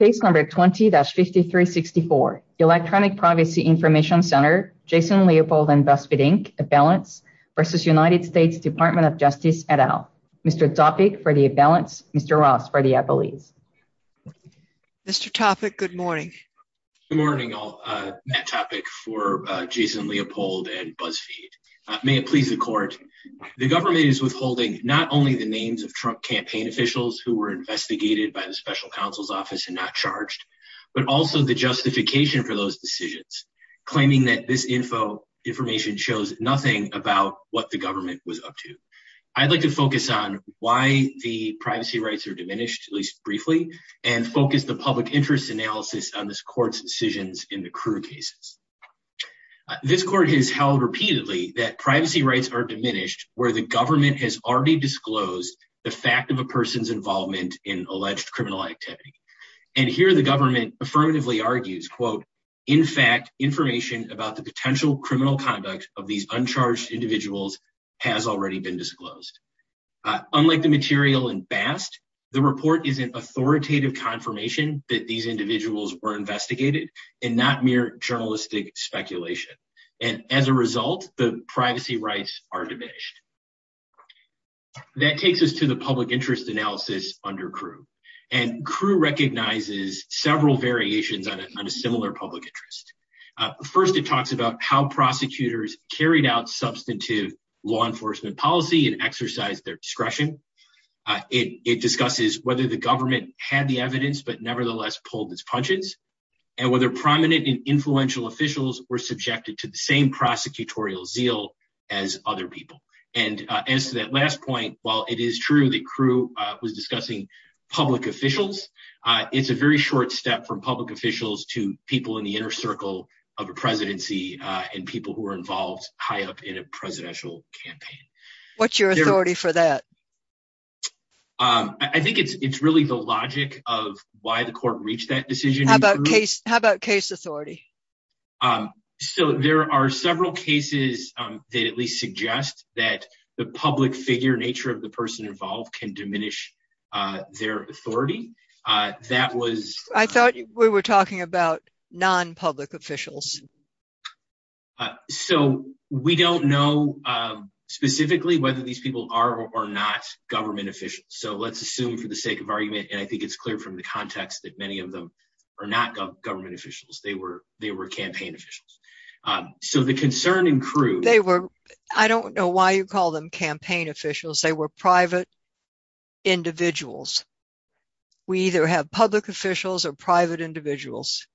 Case number 20-5364, Electronic Privacy Information Center, Jason Leopold and BuzzFeed Inc. Appellants v. United States Department of Justice et al. Mr. Topic for the Appellants, Mr. Ross for the Appellees. Mr. Topic, good morning. Good morning all, Matt Topic for Jason Leopold and BuzzFeed. May it please the court, the government is withholding not only the names of Trump campaign officials who were investigated by the special counsel's office and not charged, but also the justification for those decisions, claiming that this info information shows nothing about what the government was up to. I'd like to focus on why the privacy rights are diminished, at least briefly, and focus the public interest analysis on this court's decisions in the crew cases. This court has held repeatedly that privacy rights are diminished where the government has already disclosed the fact of a person's involvement in alleged criminal activity. And here the government affirmatively argues, quote, in fact, information about the potential criminal conduct of these uncharged individuals has already been disclosed. Unlike the material in Bast, the report is an authoritative confirmation that these individuals were investigated and not mere journalistic speculation. And as a result, the privacy rights are diminished. That takes us to the public interest analysis under crew and crew recognizes several variations on a similar public interest. First, it talks about how prosecutors carried out substantive law enforcement policy and exercise their discretion. It discusses whether the government had the evidence, but nevertheless pulled its punches and whether prominent and influential officials were subjected to the same prosecutorial zeal as other people. And as to that last point, while it is true that crew was discussing public officials, it's a very short step from public officials to people in the inner circle of a presidency and people who were involved high up in a presidential campaign. What's your authority for that? I think it's really the logic of why the court reached that decision. How about case authority? So there are several cases that at least suggest that the public figure nature of the person involved can diminish their authority. I thought we were talking about non-public officials. So we don't know specifically whether these people are or are not government officials. So let's assume for the sake of argument, and I think it's clear from the context that many of them are not government officials. They were campaign officials. So the concern in crew... They were... I don't know why you call them campaign officials. They were private individuals. We either have public officials or private individuals.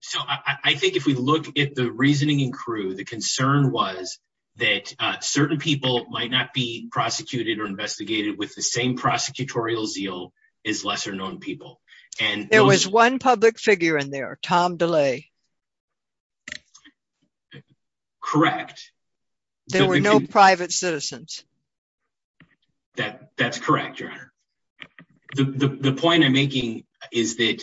So I think if we look at the reasoning in crew, the concern was that certain people might not be prosecuted or investigated with the same prosecutorial zeal as lesser known people. There was one public figure in there, Tom DeLay. Correct. There were no private citizens. That's correct, Your Honor. The point I'm making is that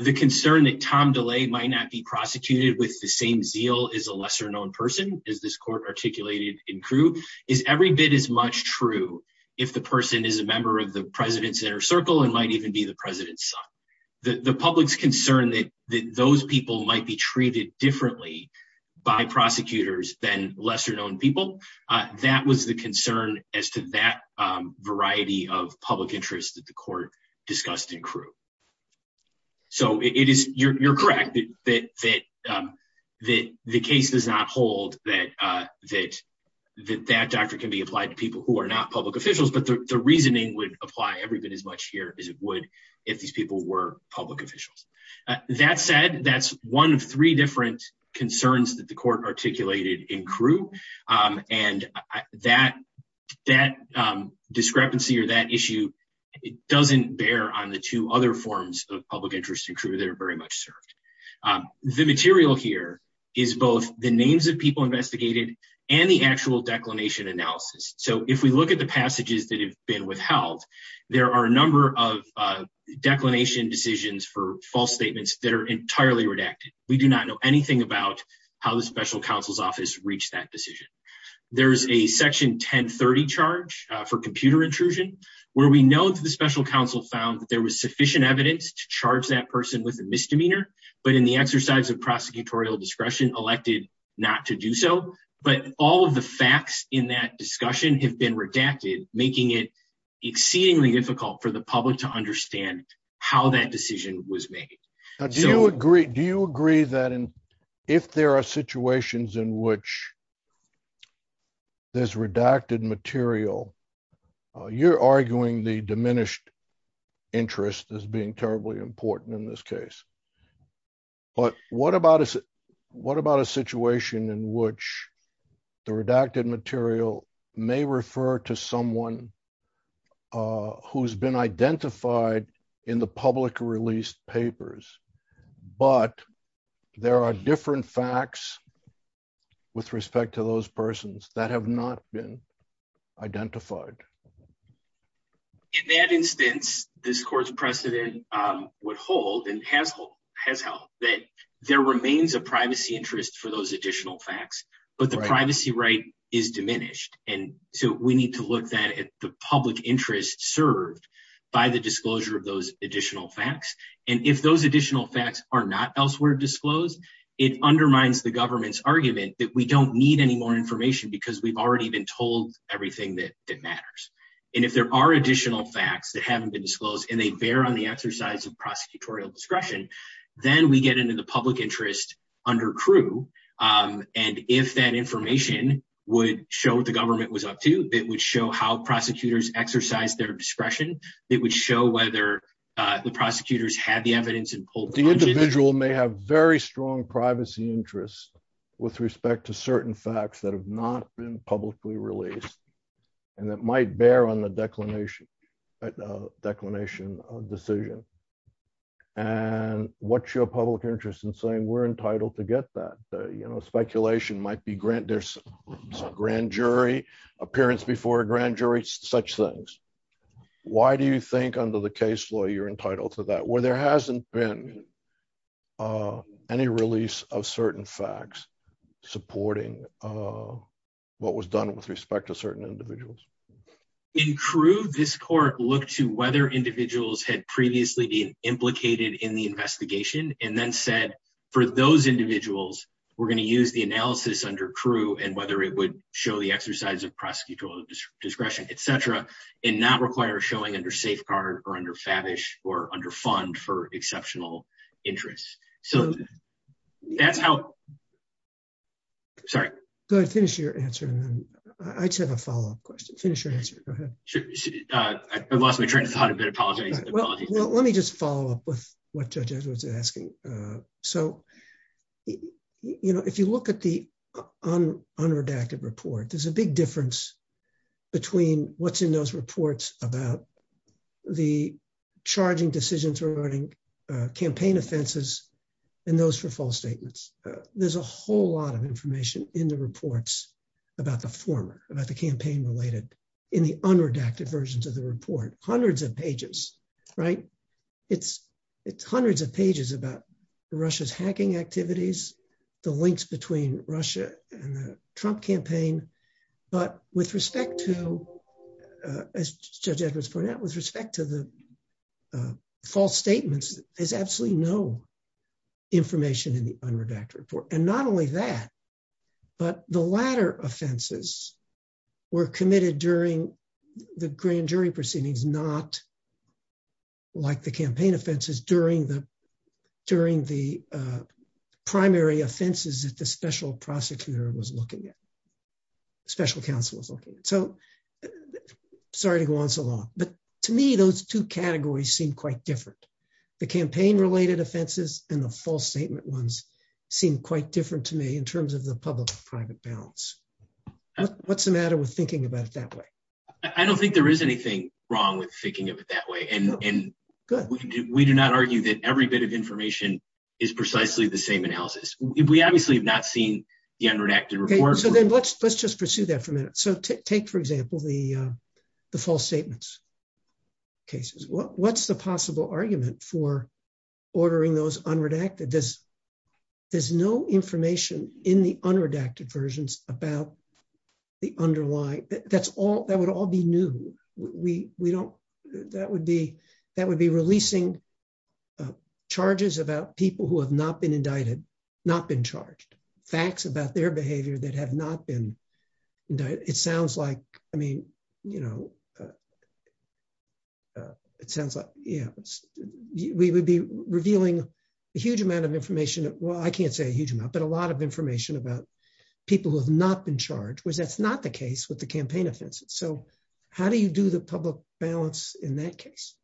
the concern that Tom DeLay might not be prosecuted with the same zeal as a lesser known person, as this court articulated in crew, is every bit as much true if the person is a member of the president's inner circle and might even be the president's son. The public's concern that those people might be treated differently by prosecutors than lesser known people, that was the concern as to that variety of public interest that the court discussed in crew. So you're correct that the case does not hold that that doctrine can be applied to people who are not public officials, but the reasoning would apply every bit as much here as it would if these people were public officials. That said, that's one of three different concerns that the court articulated in crew, and that discrepancy or that issue doesn't bear on the two other forms of public interest in crew that are very much served. The material here is both the names of people investigated and the actual declination analysis. So if we look at the passages that have been withheld, there are a number of declination decisions for false statements that are entirely redacted. We do not know anything about how the special counsel's office reached that decision. There's a section 1030 charge for computer intrusion where we know that the special counsel found that there was sufficient evidence to charge that person with a misdemeanor, but in the exercise of prosecutorial discretion elected not to do so. But all of the facts in that discussion have been redacted, making it exceedingly difficult for the public to understand how that decision was made. Do you agree that if there are situations in which there's redacted material, you're arguing the diminished interest as being terribly important in this case, but what about a situation in which the redacted material may refer to someone who's been identified in the public released papers, but there are different facts with respect to those persons that have not been identified? In that instance, this court's precedent would hold and has held that there remains a privacy interest for those additional facts, but the privacy right is diminished. And so we need to look at the public interest served by the disclosure of those additional facts. And if those additional facts are not elsewhere disclosed, it undermines the government's argument that we don't need any more information because we've already been told everything that matters. And if there are additional facts that haven't been disclosed and they bear on the exercise of prosecutorial discretion, then we get into the public interest under crew. And if that information would show what the government was up to, it would show how prosecutors exercise their discretion. It would show whether the prosecutors had the evidence and pulled the individual may have very strong privacy interests with respect to certain facts that have not been released and that might bear on the declination of decision. And what's your public interest in saying we're entitled to get that? Speculation might be grand jury, appearance before a grand jury, such things. Why do you think under the case law, you're entitled to that where there hasn't been any release of certain facts supporting what was done with respect to certain individuals? In crew, this court looked to whether individuals had previously been implicated in the investigation and then said, for those individuals, we're going to use the analysis under crew and whether it would show the exercise of prosecutorial discretion, et cetera, and not require showing under safeguard or under fabish or under fund for exceptional interests. So that's how... Sorry. Go ahead. Finish your answer. I just have a follow-up question. Finish your answer. Go ahead. I've lost my train of thought a bit. Apologies. Let me just follow up with what Judge Edwards is asking. So if you look at the unredacted report, there's a big difference between what's in those reports about the charging decisions regarding campaign offenses and those for false statements. There's a whole lot of information in the reports about the former, about the campaign related in the unredacted versions of the report, hundreds of pages, right? It's hundreds of pages about Russia's hacking activities, the links between Russia and the Trump campaign. But with respect to, as Judge Edwards pointed out, with respect to the false statements, there's absolutely no information in the unredacted report. And not only that, but the latter offenses were committed during the grand jury proceedings, not like the campaign offenses during the primary offenses that the special prosecutor was looking at, special counsel was looking at. So sorry to go on so long, but to me, those two categories seem quite different. The campaign related offenses and the false statement ones seem quite different to me in terms of the public-private balance. What's the matter with thinking of it that way? And we do not argue that every bit of information is precisely the same analysis. We obviously have not seen the unredacted report. So then let's just pursue that for a minute. So take, for example, the false statements cases. What's the possible argument for ordering those unredacted? There's no information in the that would be, that would be releasing charges about people who have not been indicted, not been charged, facts about their behavior that have not been. It sounds like, I mean, it sounds like, yeah, we would be revealing a huge amount of information. Well, I can't say a huge amount, but a lot of information about people who have not been charged was that's not the case with the campaign offenses. So how do you do the public balance in that case?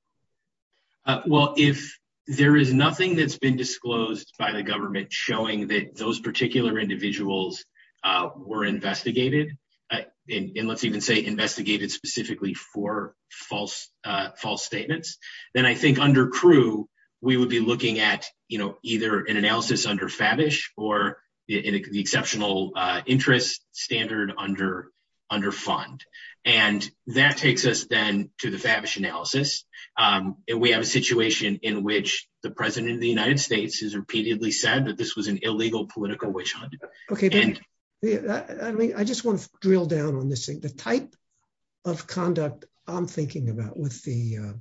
Well, if there is nothing that's been disclosed by the government showing that those particular individuals were investigated and let's even say investigated specifically for false false statements, then I think under crew, we would be looking at, you know, either an analysis under or the exceptional interest standard under fund. And that takes us then to the analysis. And we have a situation in which the president of the United States has repeatedly said that this was an illegal political witch hunt. Okay. I mean, I just want to drill down on this thing, the type of conduct I'm thinking about with the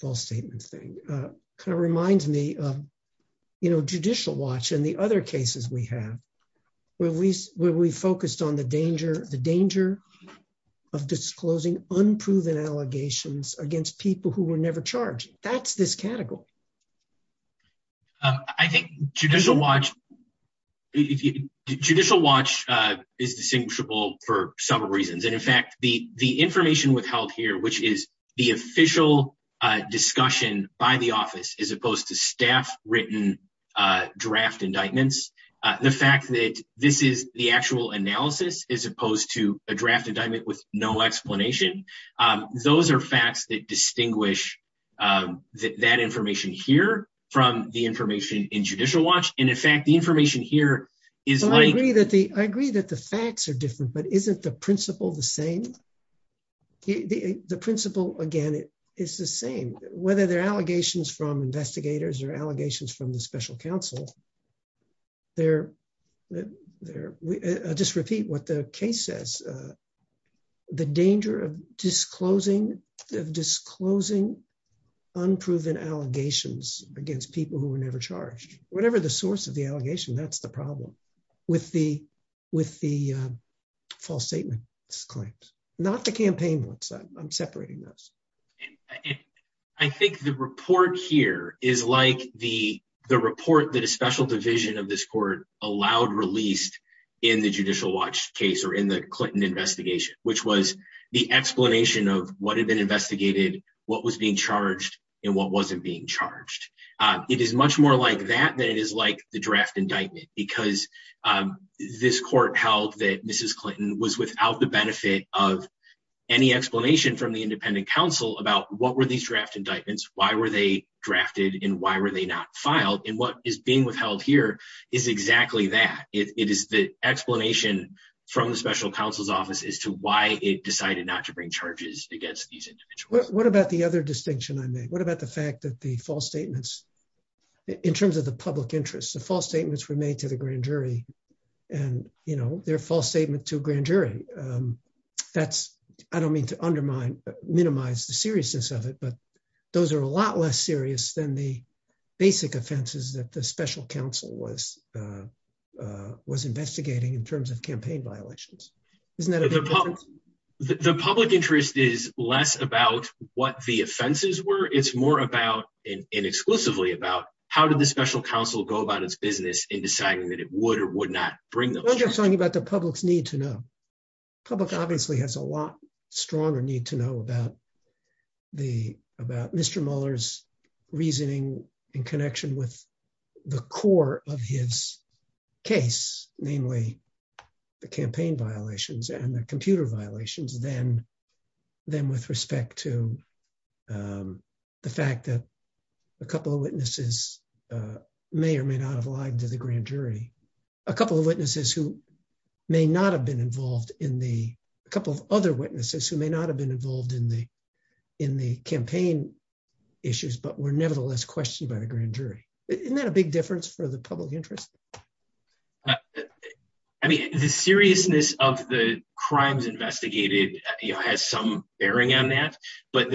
false statement thing kind of reminds me of, judicial watch and the other cases we have where we focused on the danger, the danger of disclosing unproven allegations against people who were never charged. That's this category. I think judicial watch is distinguishable for several reasons. And in fact, the information withheld here, which is the official discussion by the office, as opposed to staff written draft indictments, the fact that this is the actual analysis as opposed to a draft indictment with no explanation. Those are facts that distinguish that information here from the information in judicial watch. And in fact, the information here is like, I agree that the facts are different, but isn't the principle the same? The principle, again, it is the same, whether they're allegations from investigators or allegations from the special counsel. I'll just repeat what the case says. The danger of disclosing, of disclosing unproven allegations against people who were never charged, whatever the source of the allegation, that's the problem with the false statement claims, not the campaign ones. I'm separating those. I think the report here is like the report that a special division of this court allowed released in the judicial watch case or in the Clinton investigation, which was the explanation of what had been investigated, what was being charged and what wasn't being charged. It is much more like that than it is like the draft indictment, because this court held that Mrs. Clinton was without the benefit of any explanation from the independent counsel about what were these draft indictments, why were they drafted and why were they not filed? And what is being withheld here is exactly that. It is the explanation from the special counsel's office as to why it decided not to bring charges against these individuals. What about the other distinction I made? What about the fact that the false statements, in terms of the public interest, the false statements were made to the grand jury, and, you know, their false statement to a grand jury, that's, I don't mean to undermine, minimize the seriousness of it, but those are a lot less serious than the basic offenses that the special counsel was, was investigating in terms of campaign violations. Isn't that the public interest is less about what the offenses were, it's more about and exclusively about how did the special counsel go about its business in deciding that it would or would not bring the public's need to know, public obviously has a lot stronger need to know about the about Mr. Mueller's reasoning in connection with the core of his case, namely, the campaign violations and the computer violations, then, then with respect to the fact that a couple of witnesses may or may not have lied to the grand jury, a couple of witnesses who may not have been involved in the couple of other witnesses who may not have been involved in the, in the campaign issues, but were nevertheless questioned by the grand jury. Isn't that a big difference for the public interest? I mean, the seriousness of the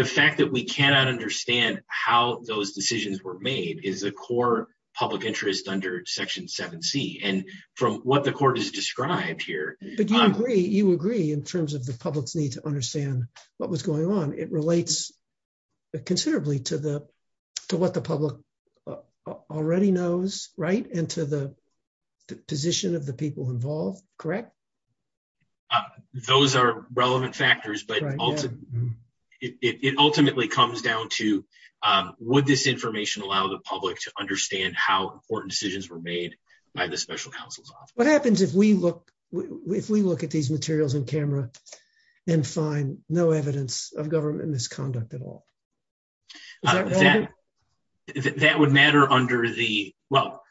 fact that we cannot understand how those decisions were made is a core public interest under section 7C and from what the court has described here. But you agree, you agree in terms of the public's need to understand what was going on. It relates considerably to the, to what the public already knows, right? And to the position of the people involved, correct? Those are relevant factors, but it ultimately comes down to, would this information allow the public to understand how important decisions were made by the special counsel's office? What happens if we look, if we look at these materials in camera and find no evidence of government misconduct at all? That would matter under the, well,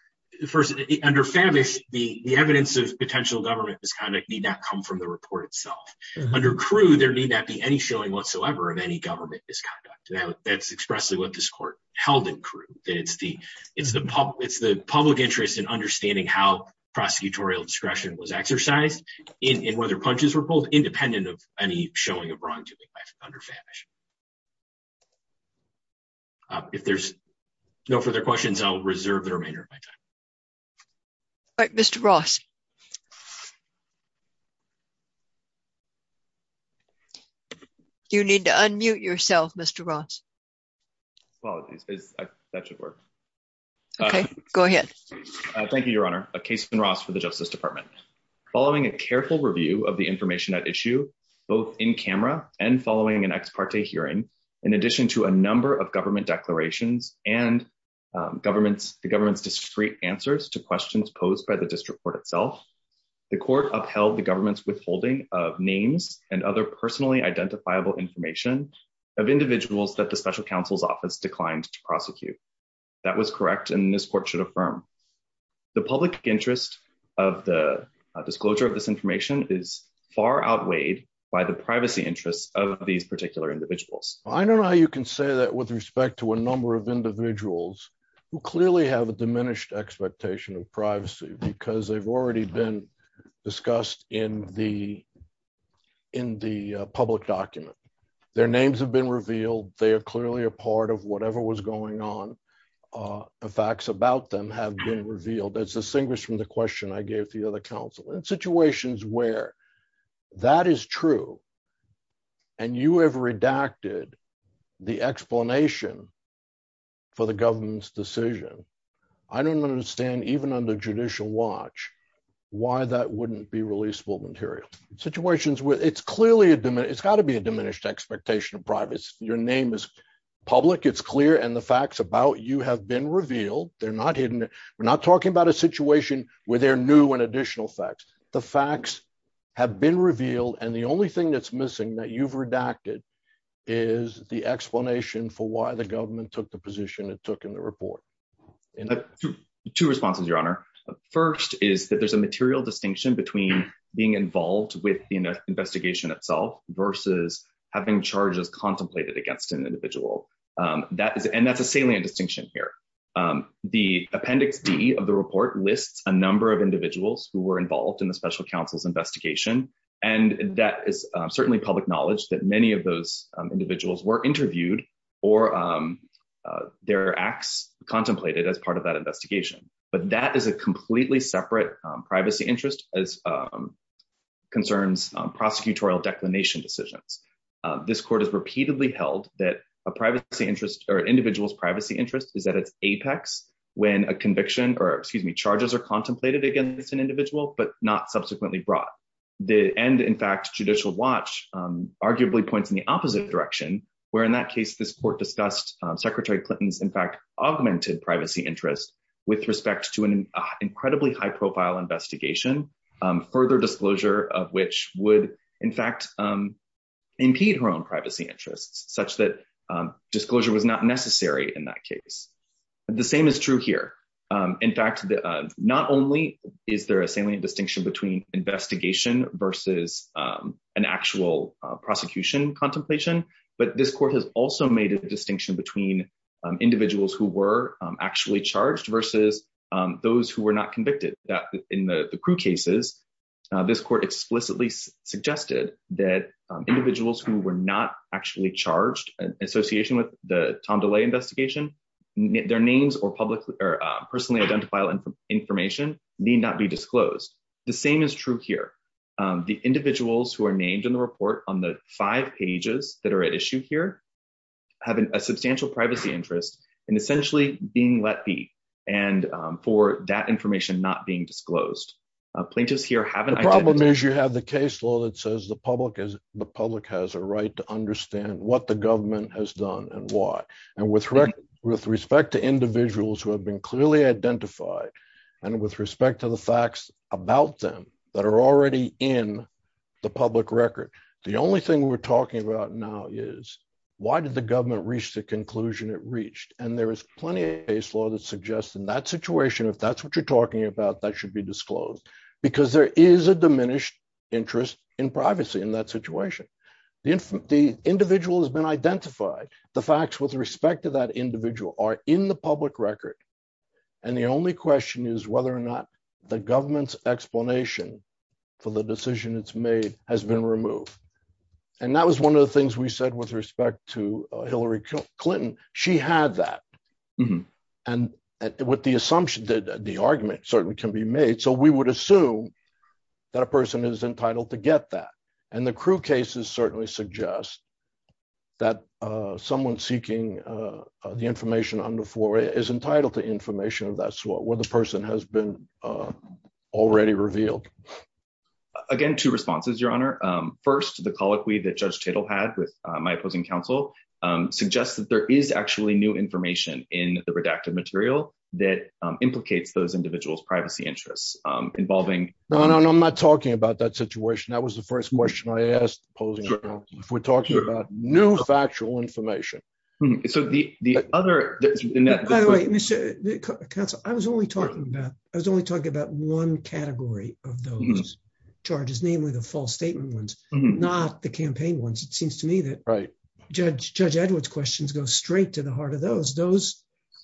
first under Favish, the evidence of potential government misconduct need not come from the report itself. Under Crewe, there need not be any showing whatsoever of any government misconduct. That's expressly what this court held in Crewe, that it's the, it's the public, it's the public interest in understanding how prosecutorial discretion was exercised in, in whether punches were pulled, independent of any showing of wrongdoing under Favish. If there's no further questions, I'll reserve the remainder of my time. All right, Mr. Ross. You need to unmute yourself, Mr. Ross. Apologies, that should work. Okay, go ahead. Thank you, Your Honor. Kason Ross for the Justice Department. Following a careful review of the information at issue, both in camera and following an ex parte hearing, in addition to a number of to questions posed by the district court itself, the court upheld the government's withholding of names and other personally identifiable information of individuals that the special counsel's office declined to prosecute. That was correct, and this court should affirm. The public interest of the disclosure of this information is far outweighed by the privacy interests of these particular individuals. I don't know how you can say that with respect to a number of individuals who clearly have a diminished expectation of privacy, because they've already been discussed in the, in the public document. Their names have been revealed, they are clearly a part of whatever was going on. The facts about them have been revealed, as distinguished from the question I gave to the other counsel. In situations where that is true, and you have redacted the explanation for the government's decision, I don't understand, even under judicial watch, why that wouldn't be releasable material. Situations where it's clearly a diminished, it's got to be a diminished expectation of privacy. Your name is public, it's clear, and the facts about you have been revealed. They're not hidden. We're not talking about a situation where they're new and additional facts. The facts have been revealed, and the only that's missing that you've redacted is the explanation for why the government took the position it took in the report. Two responses, your honor. First is that there's a material distinction between being involved with the investigation itself versus having charges contemplated against an individual. That is, and that's a salient distinction here. The appendix D of the report lists a number of individuals who were involved in the special counsel's investigation, and that is certainly public knowledge that many of those individuals were interviewed or their acts contemplated as part of that investigation, but that is a completely separate privacy interest as concerns prosecutorial declination decisions. This court has repeatedly held that a privacy interest or an individual's privacy interest is at its apex when a conviction or, excuse me, charges are contemplated against an individual, but not subsequently brought. The end, in fact, judicial watch arguably points in the opposite direction, where in that case, this court discussed Secretary Clinton's, in fact, augmented privacy interest with respect to an incredibly high-profile investigation, further disclosure of which would, in fact, impede her own privacy interests, such that disclosure was not necessary in that case. The same is true here. In fact, not only is there a salient distinction between investigation versus an actual prosecution contemplation, but this court has also made a distinction between individuals who were actually charged versus those who were not convicted. In the crew cases, this court explicitly suggested that individuals who were not actually charged in association with the Tom DeLay investigation, their names or personally identifiable information need not be disclosed. The same is true here. The individuals who are named in the report on the five pages that are at issue here have a substantial privacy interest in essentially being let be, and for that information not being disclosed. Plaintiffs here haven't... The problem is you have the case law that says the public has a right to understand what the government has done and why, and with respect to individuals who have been clearly identified and with respect to the facts about them that are already in the public record, the only thing we're talking about now is why did the government reach the conclusion it reached, and there is plenty of case law that suggests in that situation, if that's what you're talking about, that should be disclosed, because there is a diminished interest in privacy in that the individual has been identified. The facts with respect to that individual are in the public record, and the only question is whether or not the government's explanation for the decision it's made has been removed, and that was one of the things we said with respect to Hillary Clinton. She had that, and with the assumption that the argument certainly can be made, so we would assume that a person is entitled to get that, and the crew cases certainly suggest that someone seeking the information on the floor is entitled to information of that sort where the person has been already revealed. Again, two responses, Your Honor. First, the colloquy that Judge Tittle had with my opposing counsel suggests that there is actually new information in the redacted material that implicates those individuals' privacy interests involving... No, no, no. I'm not talking about that situation. That was the first question I asked opposing counsel. If we're talking about new factual information... So the other... By the way, counsel, I was only talking about one category of those charges, namely the false statement ones, not the campaign ones. It seems to me that Judge Edwards' questions go straight to heart of those.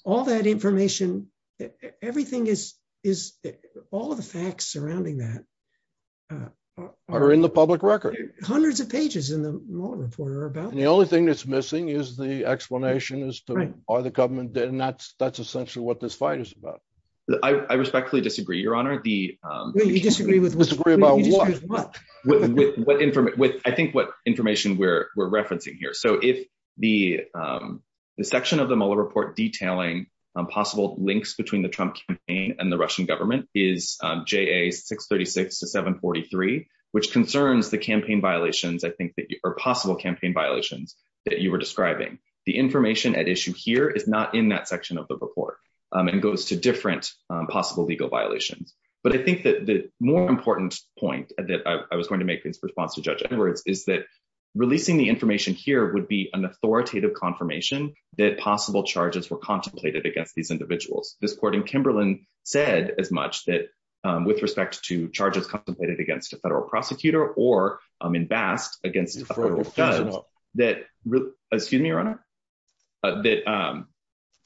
All that information, everything is... All of the facts surrounding that... Are in the public record. Hundreds of pages in the Mueller Report are about that. And the only thing that's missing is the explanation as to, are the government... And that's essentially what this fight is about. I respectfully disagree, Your Honor. The... Well, you disagree with what? Disagree about what? You disagree with what? I think what information we're referencing here. So if the section of the Mueller Report detailing possible links between the Trump campaign and the Russian government is JA 636 to 743, which concerns the campaign violations, I think that... Or possible campaign violations that you were describing. The information at issue here is not in that section of the report and goes to different possible legal violations. But I think that the more important point that I was going to make in response to Judge Edwards is that releasing the information here would be an authoritative confirmation that possible charges were contemplated against these individuals. This court in Kimberlin said as much that with respect to charges contemplated against a federal prosecutor or in Bast, against a federal judge, that... Excuse me, Your Honor? That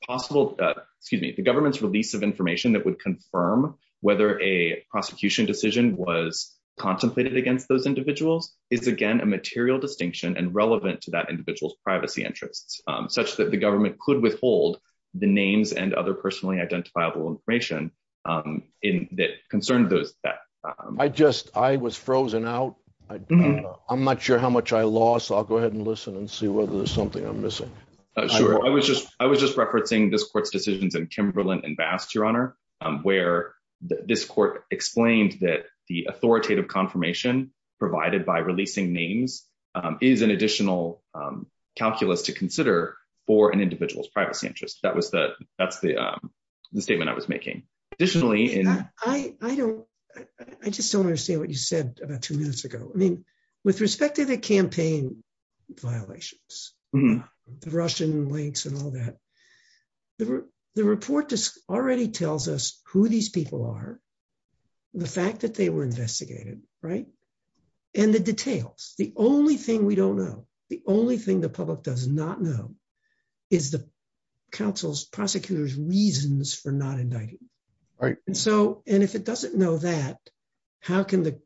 possible... Excuse me. The government's release of information that would confirm whether a prosecution decision was contemplated against those individuals is again, a material distinction and relevant to that individual's privacy interests, such that the government could withhold the names and other personally identifiable information that concerned those... I just... I was frozen out. I'm not sure how much I lost. I'll go ahead and listen and see whether there's something I'm missing. Sure. I was just referencing this court's decisions in Kimberlin and Bast, Your Honor, where this court explained that the authoritative confirmation provided by releasing names is an additional calculus to consider for an individual's privacy interest. That's the statement I was making. Additionally... I just don't understand what you said about two minutes ago. I mean, with respect to the campaign violations, the Russian links and all that, the report already tells us who these people are, the fact that they were investigated, right? And the details. The only thing we don't know, the only thing the public does not know is the counsel's, prosecutor's reasons for not indicting. And so... And if it doesn't know that, how can the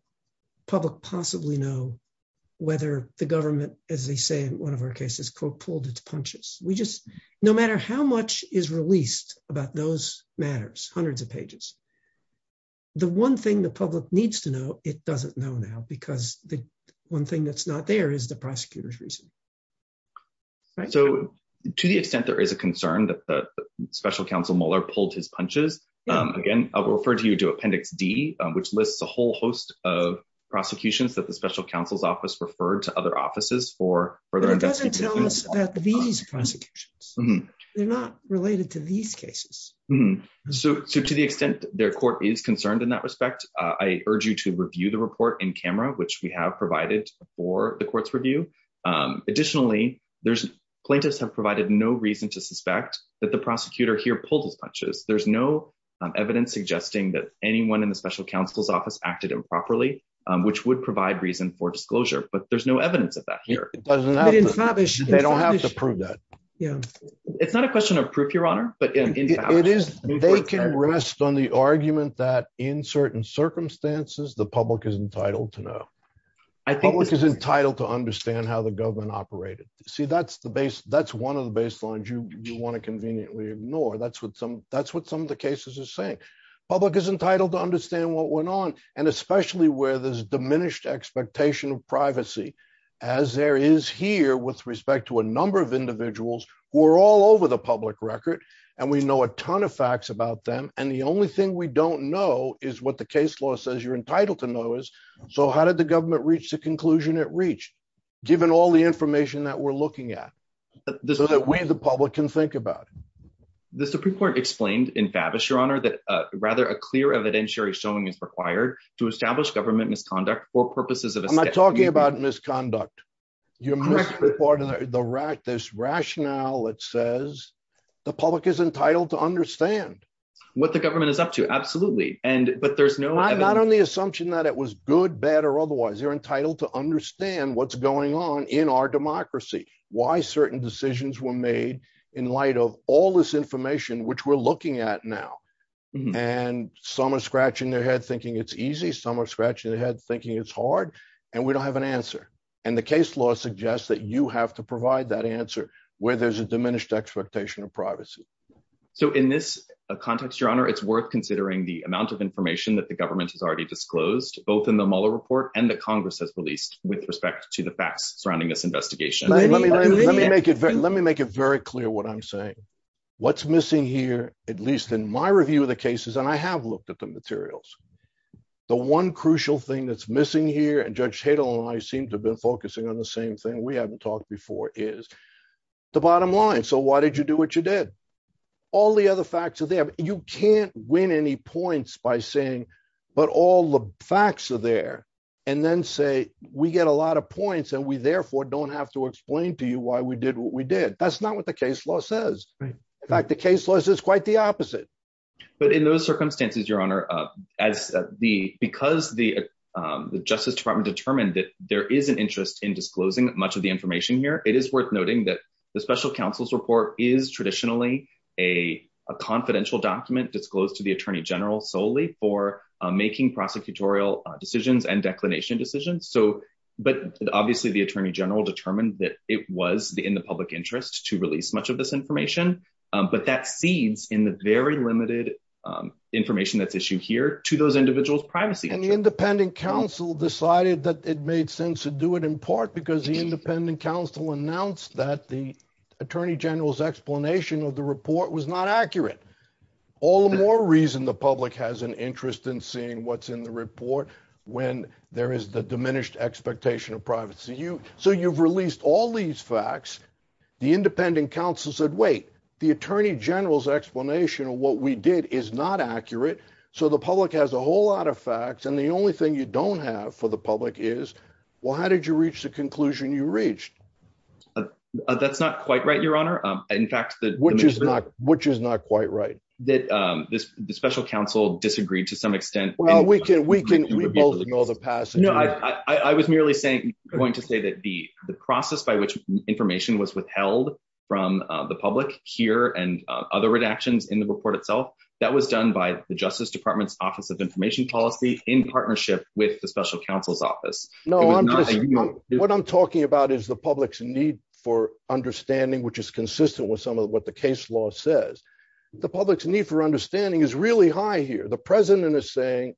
public possibly know whether the government, as they say in one of our cases, quote, matters? Hundreds of pages. The one thing the public needs to know, it doesn't know now, because the one thing that's not there is the prosecutor's reason. So, to the extent there is a concern that the special counsel Mueller pulled his punches, again, I'll refer to you to Appendix D, which lists a whole host of prosecutions that the special counsel's office referred to other offices for further investigation. These prosecutions, they're not related to these cases. So, to the extent their court is concerned in that respect, I urge you to review the report in camera, which we have provided for the court's review. Additionally, plaintiffs have provided no reason to suspect that the prosecutor here pulled his punches. There's no evidence suggesting that anyone in the special counsel's office acted improperly, which would provide reason for They don't have to prove that. It's not a question of proof, Your Honor. It is. They can rest on the argument that in certain circumstances, the public is entitled to know. The public is entitled to understand how the government operated. See, that's one of the baselines you want to conveniently ignore. That's what some of the cases are saying. Public is entitled to understand what went on, and especially where there's diminished expectation of privacy, as there is here with respect to a number of individuals who are all over the public record, and we know a ton of facts about them, and the only thing we don't know is what the case law says you're entitled to know is. So, how did the government reach the conclusion it reached, given all the information that we're looking at, so that we, the public, can think about it? The Supreme Court explained in Favis, Your Honor, that rather a clear I'm not talking about misconduct. You're misreporting this rationale that says the public is entitled to understand. What the government is up to, absolutely, but there's no I'm not on the assumption that it was good, bad, or otherwise. You're entitled to understand what's going on in our democracy, why certain decisions were made in light of all this information which we're looking at now, and some are scratching their head thinking it's easy, some are scratching their head thinking it's hard, and we don't have an answer, and the case law suggests that you have to provide that answer where there's a diminished expectation of privacy. So, in this context, Your Honor, it's worth considering the amount of information that the government has already disclosed, both in the Mueller report and the Congress has released, with respect to the facts surrounding this investigation. Let me make it very clear what I'm saying. What's missing here, at least in my review of the cases, and I have looked at the materials, the one crucial thing that's missing here, and Judge Tatel and I seem to have been focusing on the same thing we haven't talked before, is the bottom line. So why did you do what you did? All the other facts are there, but you can't win any points by saying, but all the facts are there, and then say, we get a lot of points, and we therefore don't have to explain to you why we did what we did. That's not what the case law says. In fact, the case law says quite the opposite. But in those circumstances, Your Honor, because the Justice Department determined that there is an interest in disclosing much of the information here, it is worth noting that the Special Counsel's report is traditionally a confidential document disclosed to the Attorney General solely for making prosecutorial decisions and declination decisions. But obviously, the Attorney General determined that it was in the public interest to release much of this information, but that seeds in the very limited information that's issued here to those individuals' privacy interests. And the Independent Counsel decided that it made sense to do it in part because the Independent Counsel announced that the Attorney General's explanation of the report was not accurate. All the more reason the public has an interest in seeing what's in the report when there is the diminished expectation of privacy. So you've released all these facts. The Independent Counsel said, wait, the Attorney General's explanation of what we did is not accurate. So the public has a whole lot of facts. And the only thing you don't have for the public is, well, how did you reach the conclusion you reached? That's not quite right, Your Honor. Which is not quite right? That the Special Counsel disagreed to some extent. Well, we both know the passage. I was merely going to say that the process by which information was withheld from the public here and other redactions in the report itself, that was done by the Justice Department's Office of Information Policy in partnership with the Special Counsel's office. What I'm talking about is the public's need for understanding, which is consistent with some of what the case law says. The public's need for understanding is really high here. The President is saying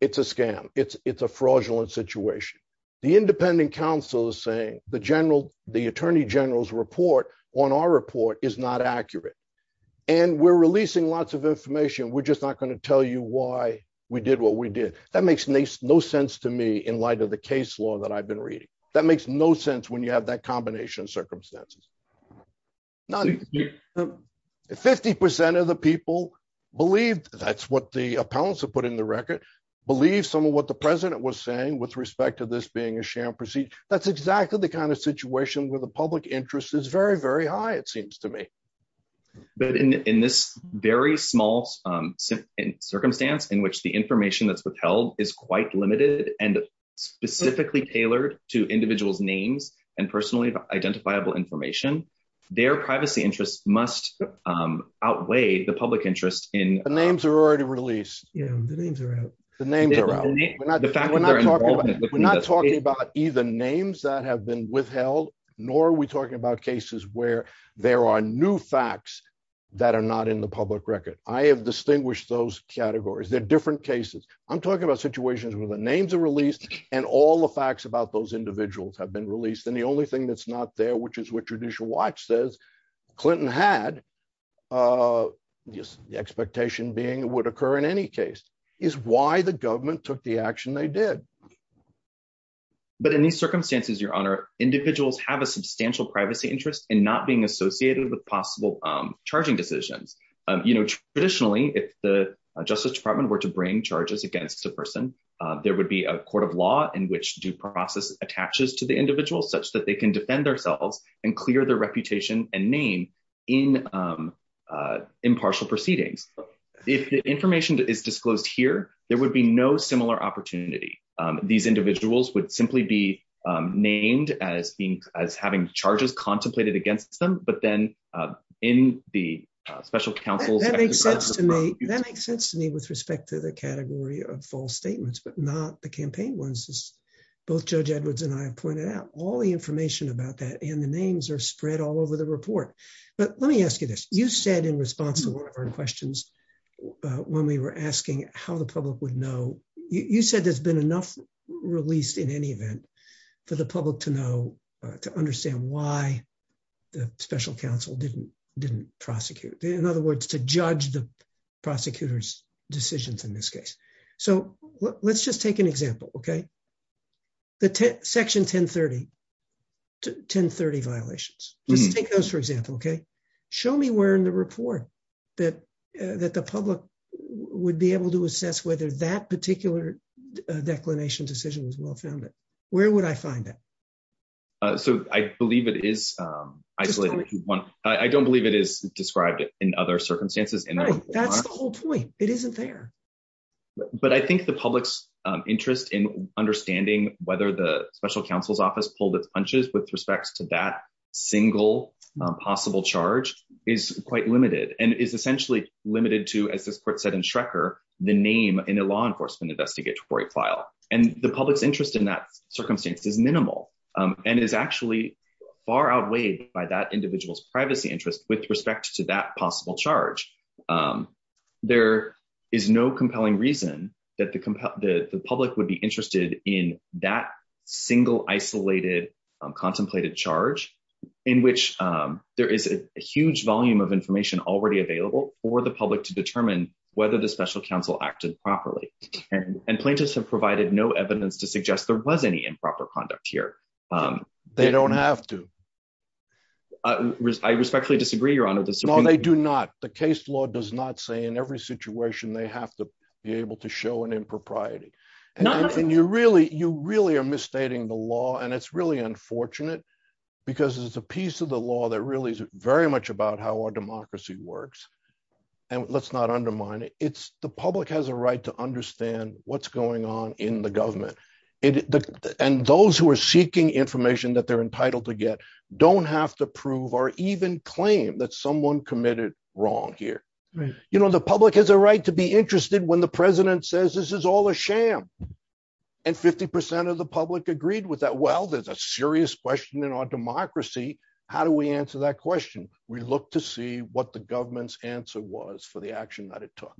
it's a scam. It's a fraudulent situation. The Independent Counsel is saying the Attorney General's report on our report is not accurate. And we're releasing lots of information. We're just not going to tell you why we did what we did. That makes no sense to me in light of the case law that I've been reading. That makes no sense when you have that combination of circumstances. 50% of the people believe, that's what the appellants have put in the record, believe some of what the President was saying with respect to this being a sham procedure. That's exactly the kind of situation where the public interest is very, very high, it seems to me. But in this very small circumstance in which the information that's withheld is quite limited and specifically tailored to individuals' names and personally identifiable information, their privacy interests must outweigh the public interest in... The names are already released. Yeah, the names are out. The names are out. We're not talking about either names that have been withheld, nor are we talking about cases where there are new facts that are not in the public record. I have distinguished those categories. They're different cases. I'm talking about situations where the names are released and all the facts about those individuals have been released, and the only thing that's not there, which is what Judicial Watch says, Clinton had, the expectation being it would occur in any case, is why the government took the action they did. But in these circumstances, Your Honor, individuals have a substantial privacy interest in not being associated with possible charging decisions. Traditionally, if the person... There would be a court of law in which due process attaches to the individual such that they can defend themselves and clear their reputation and name in impartial proceedings. If the information is disclosed here, there would be no similar opportunity. These individuals would simply be named as having charges contemplated against them, but then in the special counsel's... That makes sense to me with respect to the category of false statements, but not the campaign ones as both Judge Edwards and I have pointed out. All the information about that and the names are spread all over the report. But let me ask you this. You said in response to one of our questions when we were asking how the public would know, you said there's been enough released in any event for the public to know, to understand why the special counsel didn't prosecute. In other words, to judge the prosecutor's decisions in this case. So let's just take an example, okay? The section 1030 violations, just take those for example, okay? Show me where in the report that the public would be able to assess whether that particular declination decision was well-founded. Where would I find that? So I believe it is isolated. I don't believe it is described in other circumstances. Right, that's the whole point. It isn't there. But I think the public's interest in understanding whether the special counsel's office pulled its punches with respects to that single possible charge is quite limited and is essentially limited to, as this court said in Schrecker, the name in a law enforcement investigatory file. And public's interest in that circumstance is minimal and is actually far outweighed by that individual's privacy interest with respect to that possible charge. There is no compelling reason that the public would be interested in that single isolated contemplated charge in which there is a huge volume of information already available for the public to determine whether the special counsel acted properly. And plaintiffs have provided no evidence to suggest there was any improper conduct here. They don't have to. I respectfully disagree, your honor. No, they do not. The case law does not say in every situation they have to be able to show an impropriety. You really are misstating the law and it's really unfortunate because it's a piece of the law that very much about how our democracy works. And let's not undermine it. The public has a right to understand what's going on in the government. And those who are seeking information that they're entitled to get don't have to prove or even claim that someone committed wrong here. You know, the public has a right to be interested when the president says this is all a sham. And 50% of the public agreed with that. Well, there's a serious question in our democracy. How do we answer that question? We look to see what the government's answer was for the action that it took.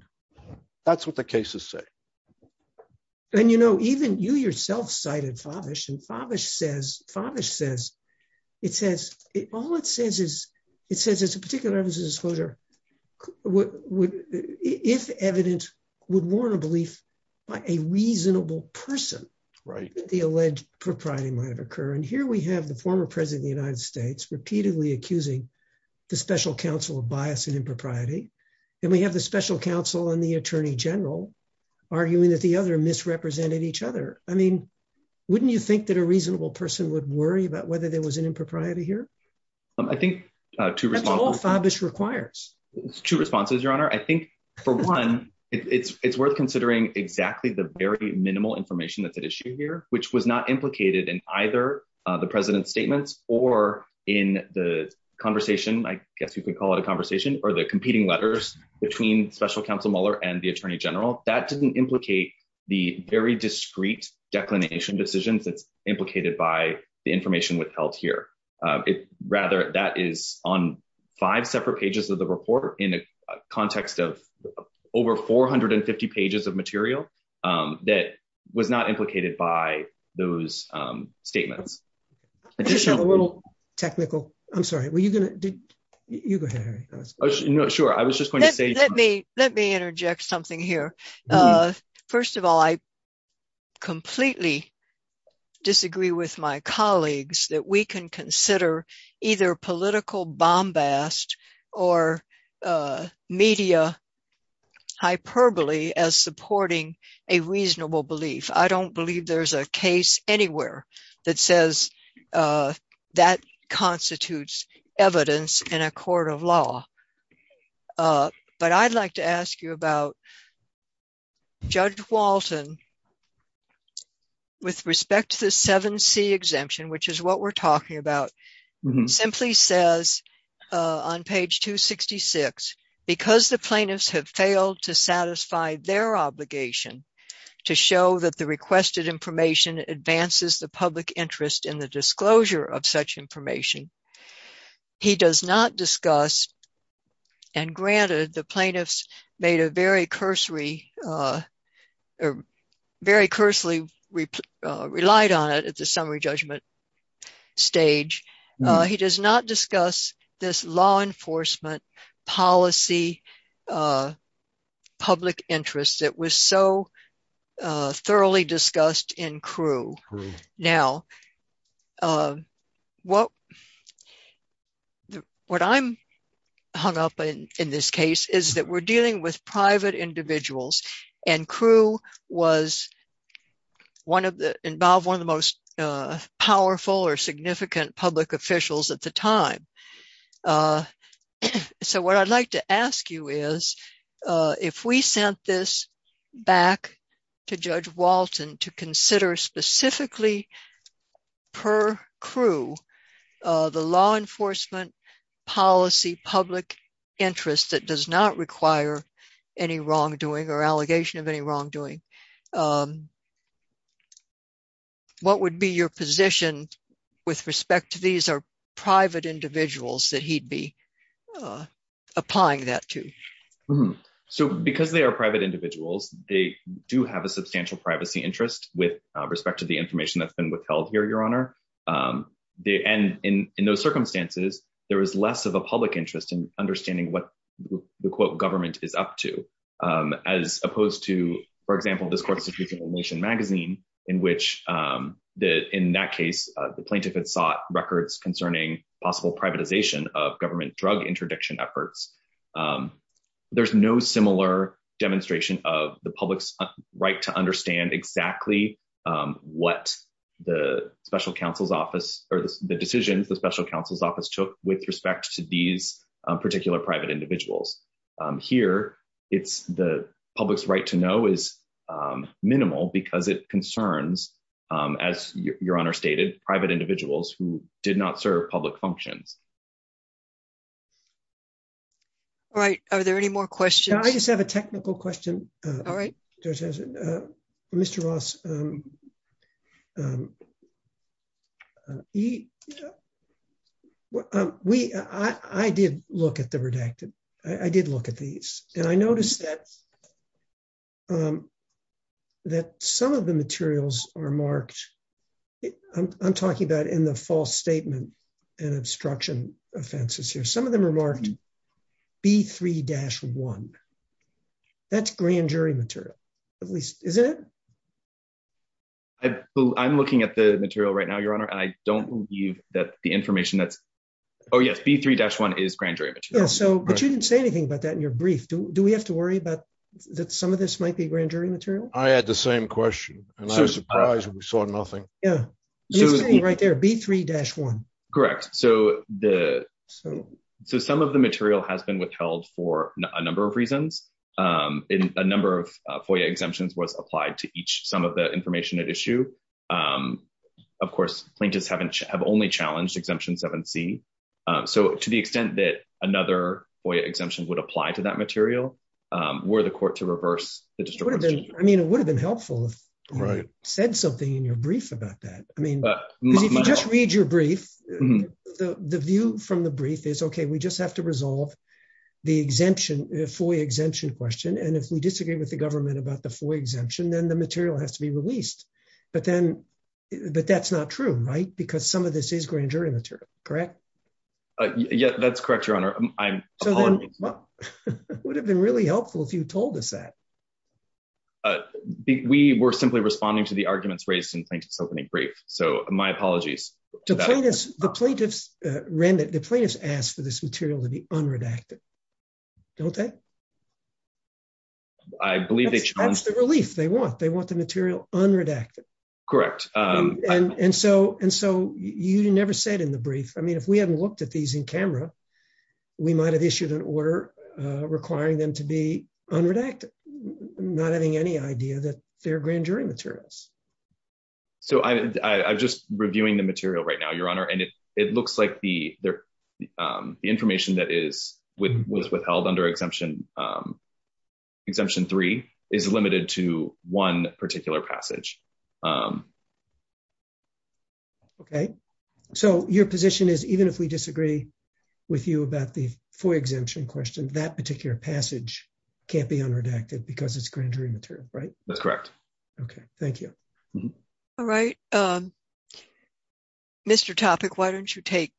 That's what the cases say. And, you know, even you yourself cited Favish and Favish says, it says, all it says is, it says it's a particular disclosure. If evidence would warn a belief by a reasonable person. Right. The alleged propriety might occur. And here we have the former president of the United States repeatedly accusing the special counsel of bias and impropriety. And we have the special counsel and the attorney general arguing that the other misrepresented each other. I mean, wouldn't you think that a reasonable person would worry about whether there was an impropriety here? I think to respond to this requires two responses, your honor. I think for one, it's worth considering exactly the very minimal information that's at issue here, which was not implicated in either the president's statements or in the conversation. I guess you could call it a conversation or the competing letters between special counsel Mueller and the attorney general that didn't implicate the very discreet declination decisions that's implicated by the information withheld here. Rather that is on five separate pages of the report in the context of over 450 pages of material that was not implicated by those statements. I just have a little technical, I'm sorry, were you going to, you go ahead. Sure. I was just going to say, let me, let me interject something here. First of all, I completely disagree with my colleagues that we can consider either political bombast or media hyperbole as supporting a reasonable belief. I don't believe there's a case anywhere that says that constitutes evidence in a court of law. But I'd like to ask you about Judge Walton with respect to the 7C exemption, which is what we're talking about, simply says on page 266, because the plaintiffs have failed to satisfy their obligation to show that the requested information advances the public interest in the disclosure of such information. He does not very coarsely relied on it at the summary judgment stage. He does not discuss this law enforcement policy, public interest that was so thoroughly discussed in Crewe. Now, what, what I'm hung up in this case is that we're dealing with private individuals and Crewe was one of the, involved one of the most powerful or significant public officials at the time. So what I'd like to ask you is, if we sent this back to Judge Walton to consider specifically per Crewe, the law enforcement policy, public interest that does not require any wrongdoing or allegation of any wrongdoing, what would be your position with respect to these are private individuals that he'd be applying that to? So because they are private individuals, they do have a substantial privacy interest with respect to the information that's been withheld here, your honor. And in those circumstances, there was less of a public interest in understanding what the quote government is up to, as opposed to, for example, this court institution in the nation magazine, in which the, in that case, the plaintiff had sought records concerning possible privatization of government drug interdiction efforts. There's no similar demonstration of the public's right to understand exactly what the special counsel's office or the decisions the special counsel's office took with respect to these particular private individuals. Here, it's the public's right to know is minimal because it concerns, as your honor stated, private individuals who did not serve public functions. All right. Are there any more questions? I just have a technical question. All right. Mr. Ross, I did look at the redacted. I did look at these and I noticed that that some of the materials are marked. I'm talking about in the false statement and obstruction offenses here. Some of them are marked B3-1. That's grand jury material, at least, isn't it? I'm looking at the material right now, your honor. I don't believe that the information that's, oh yes, B3-1 is grand jury material. So, but you didn't say anything about that in your brief. Do we have to worry about that some of this might be grand jury material? I had the same question and I was surprised we saw nothing. Yeah. It's right there, B3-1. Correct. So, some of the material has been withheld for a number of reasons. A number of FOIA exemptions was applied to each sum of the information at issue. Of course, plaintiffs have only challenged exemption 7C. So, to the extent that another FOIA exemption would apply to that material, were the court to reverse the distribution. I mean, it would have been helpful if you said something in your brief about that. I mean, if you just read your brief, the view from the brief is, okay, we just have to resolve the FOIA exemption question. And if we disagree with the government about the FOIA exemption, then the material has to be released. But then, but that's not true, right? Because some of this is grand jury material, correct? Yeah, that's correct, Your Honor. I'm- So then, it would have been really helpful if you told us that. We were simply responding to the arguments raised in Plaintiff's opening brief. So, my apologies. The plaintiffs asked for this material to be unredacted. Don't they? I believe they- That's the relief they want. They want the material unredacted. Correct. And so, you never said in the brief, I mean, if we hadn't looked at these in camera, we might have issued an order requiring them to be unredacted, not having any idea that they're grand jury materials. So, I'm just reviewing the material right now, Your Honor. And it looks like the information that was withheld under Exemption 3 is limited to one particular passage. Okay. So, your position is even if we disagree with you about the FOIA exemption question, that particular passage can't be unredacted because it's grand jury material, right? That's correct. Okay. Thank you. All right. Mr. Topic, why don't you take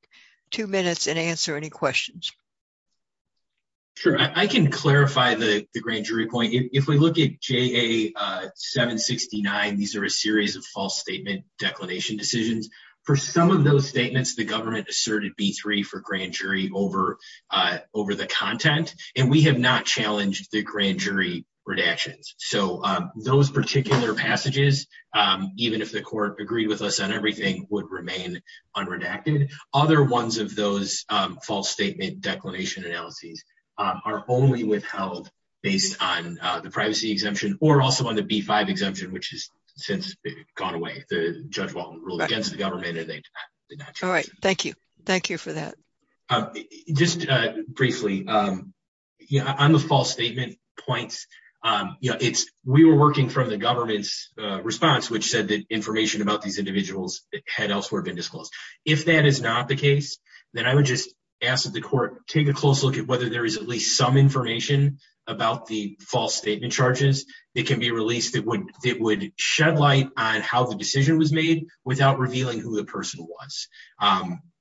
two minutes and answer any questions? Sure. I can clarify the grand jury point. If we look at JA 769, these are a series of false statement declination decisions. For some of those statements, the government asserted B3 for grand jury over the content, and we have not challenged the grand jury redactions. So, those particular passages, even if the court agreed with us on everything, would remain unredacted. Other ones of those false statement declination analyses are only withheld based on the privacy exemption or also on the B5 exemption, which has since gone away. The judge ruled against the government and they did not challenge it. All right. Thank you. Thank you for that. Just briefly, on the false statement points, we were working from the government's response, which said that information about these individuals had elsewhere been disclosed. If that is not the case, then I would just ask that the court take a close look at whether there is at least some information about the false statement charges that can be released that would shed light on how the decision was made without revealing who the person was.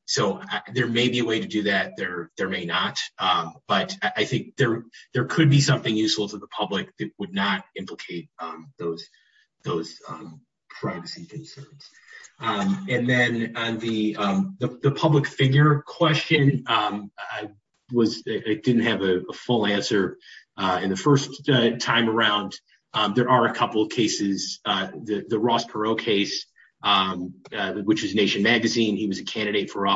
So, there may be a way to do that. There may not. But I think there could be something useful to the public that would not implicate those privacy concerns. And then, on the public figure question, I didn't have a full answer. In the first time around, there are a couple of cases. The Ross Perot case, which is Nation magazine, he was a candidate for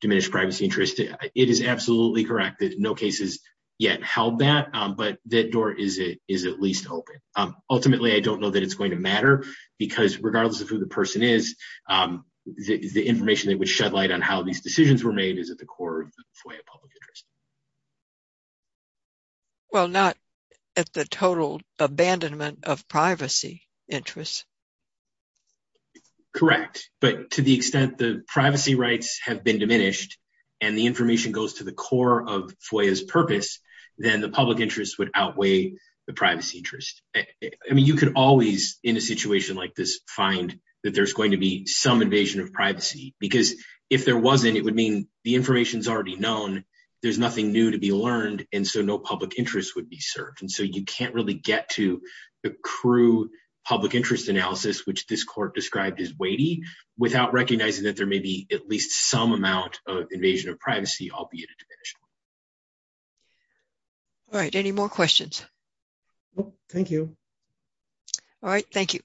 diminished privacy interest. It is absolutely correct that no case has yet held that, but that door is at least open. Ultimately, I don't know that it's going to matter because, regardless of who the person is, the information that would shed light on how these decisions were made is at the core of the FOIA public interest. Well, not at the total abandonment of privacy interests. Correct. But to the extent the privacy rights have been diminished, and the information goes to the core of FOIA's purpose, then the public interest would outweigh the privacy interest. I mean, you could always, in a situation like this, find that there's going to be some invasion of privacy. Because if there wasn't, it would mean the information's already known, there's nothing new to be learned, and so no public interest would be served. And so, you can't really get to the crude public interest analysis, which this court described as weighty, without recognizing that there may be at least some amount of invasion of privacy, albeit a diminished one. All right. Any more questions? Thank you. All right. Thank you.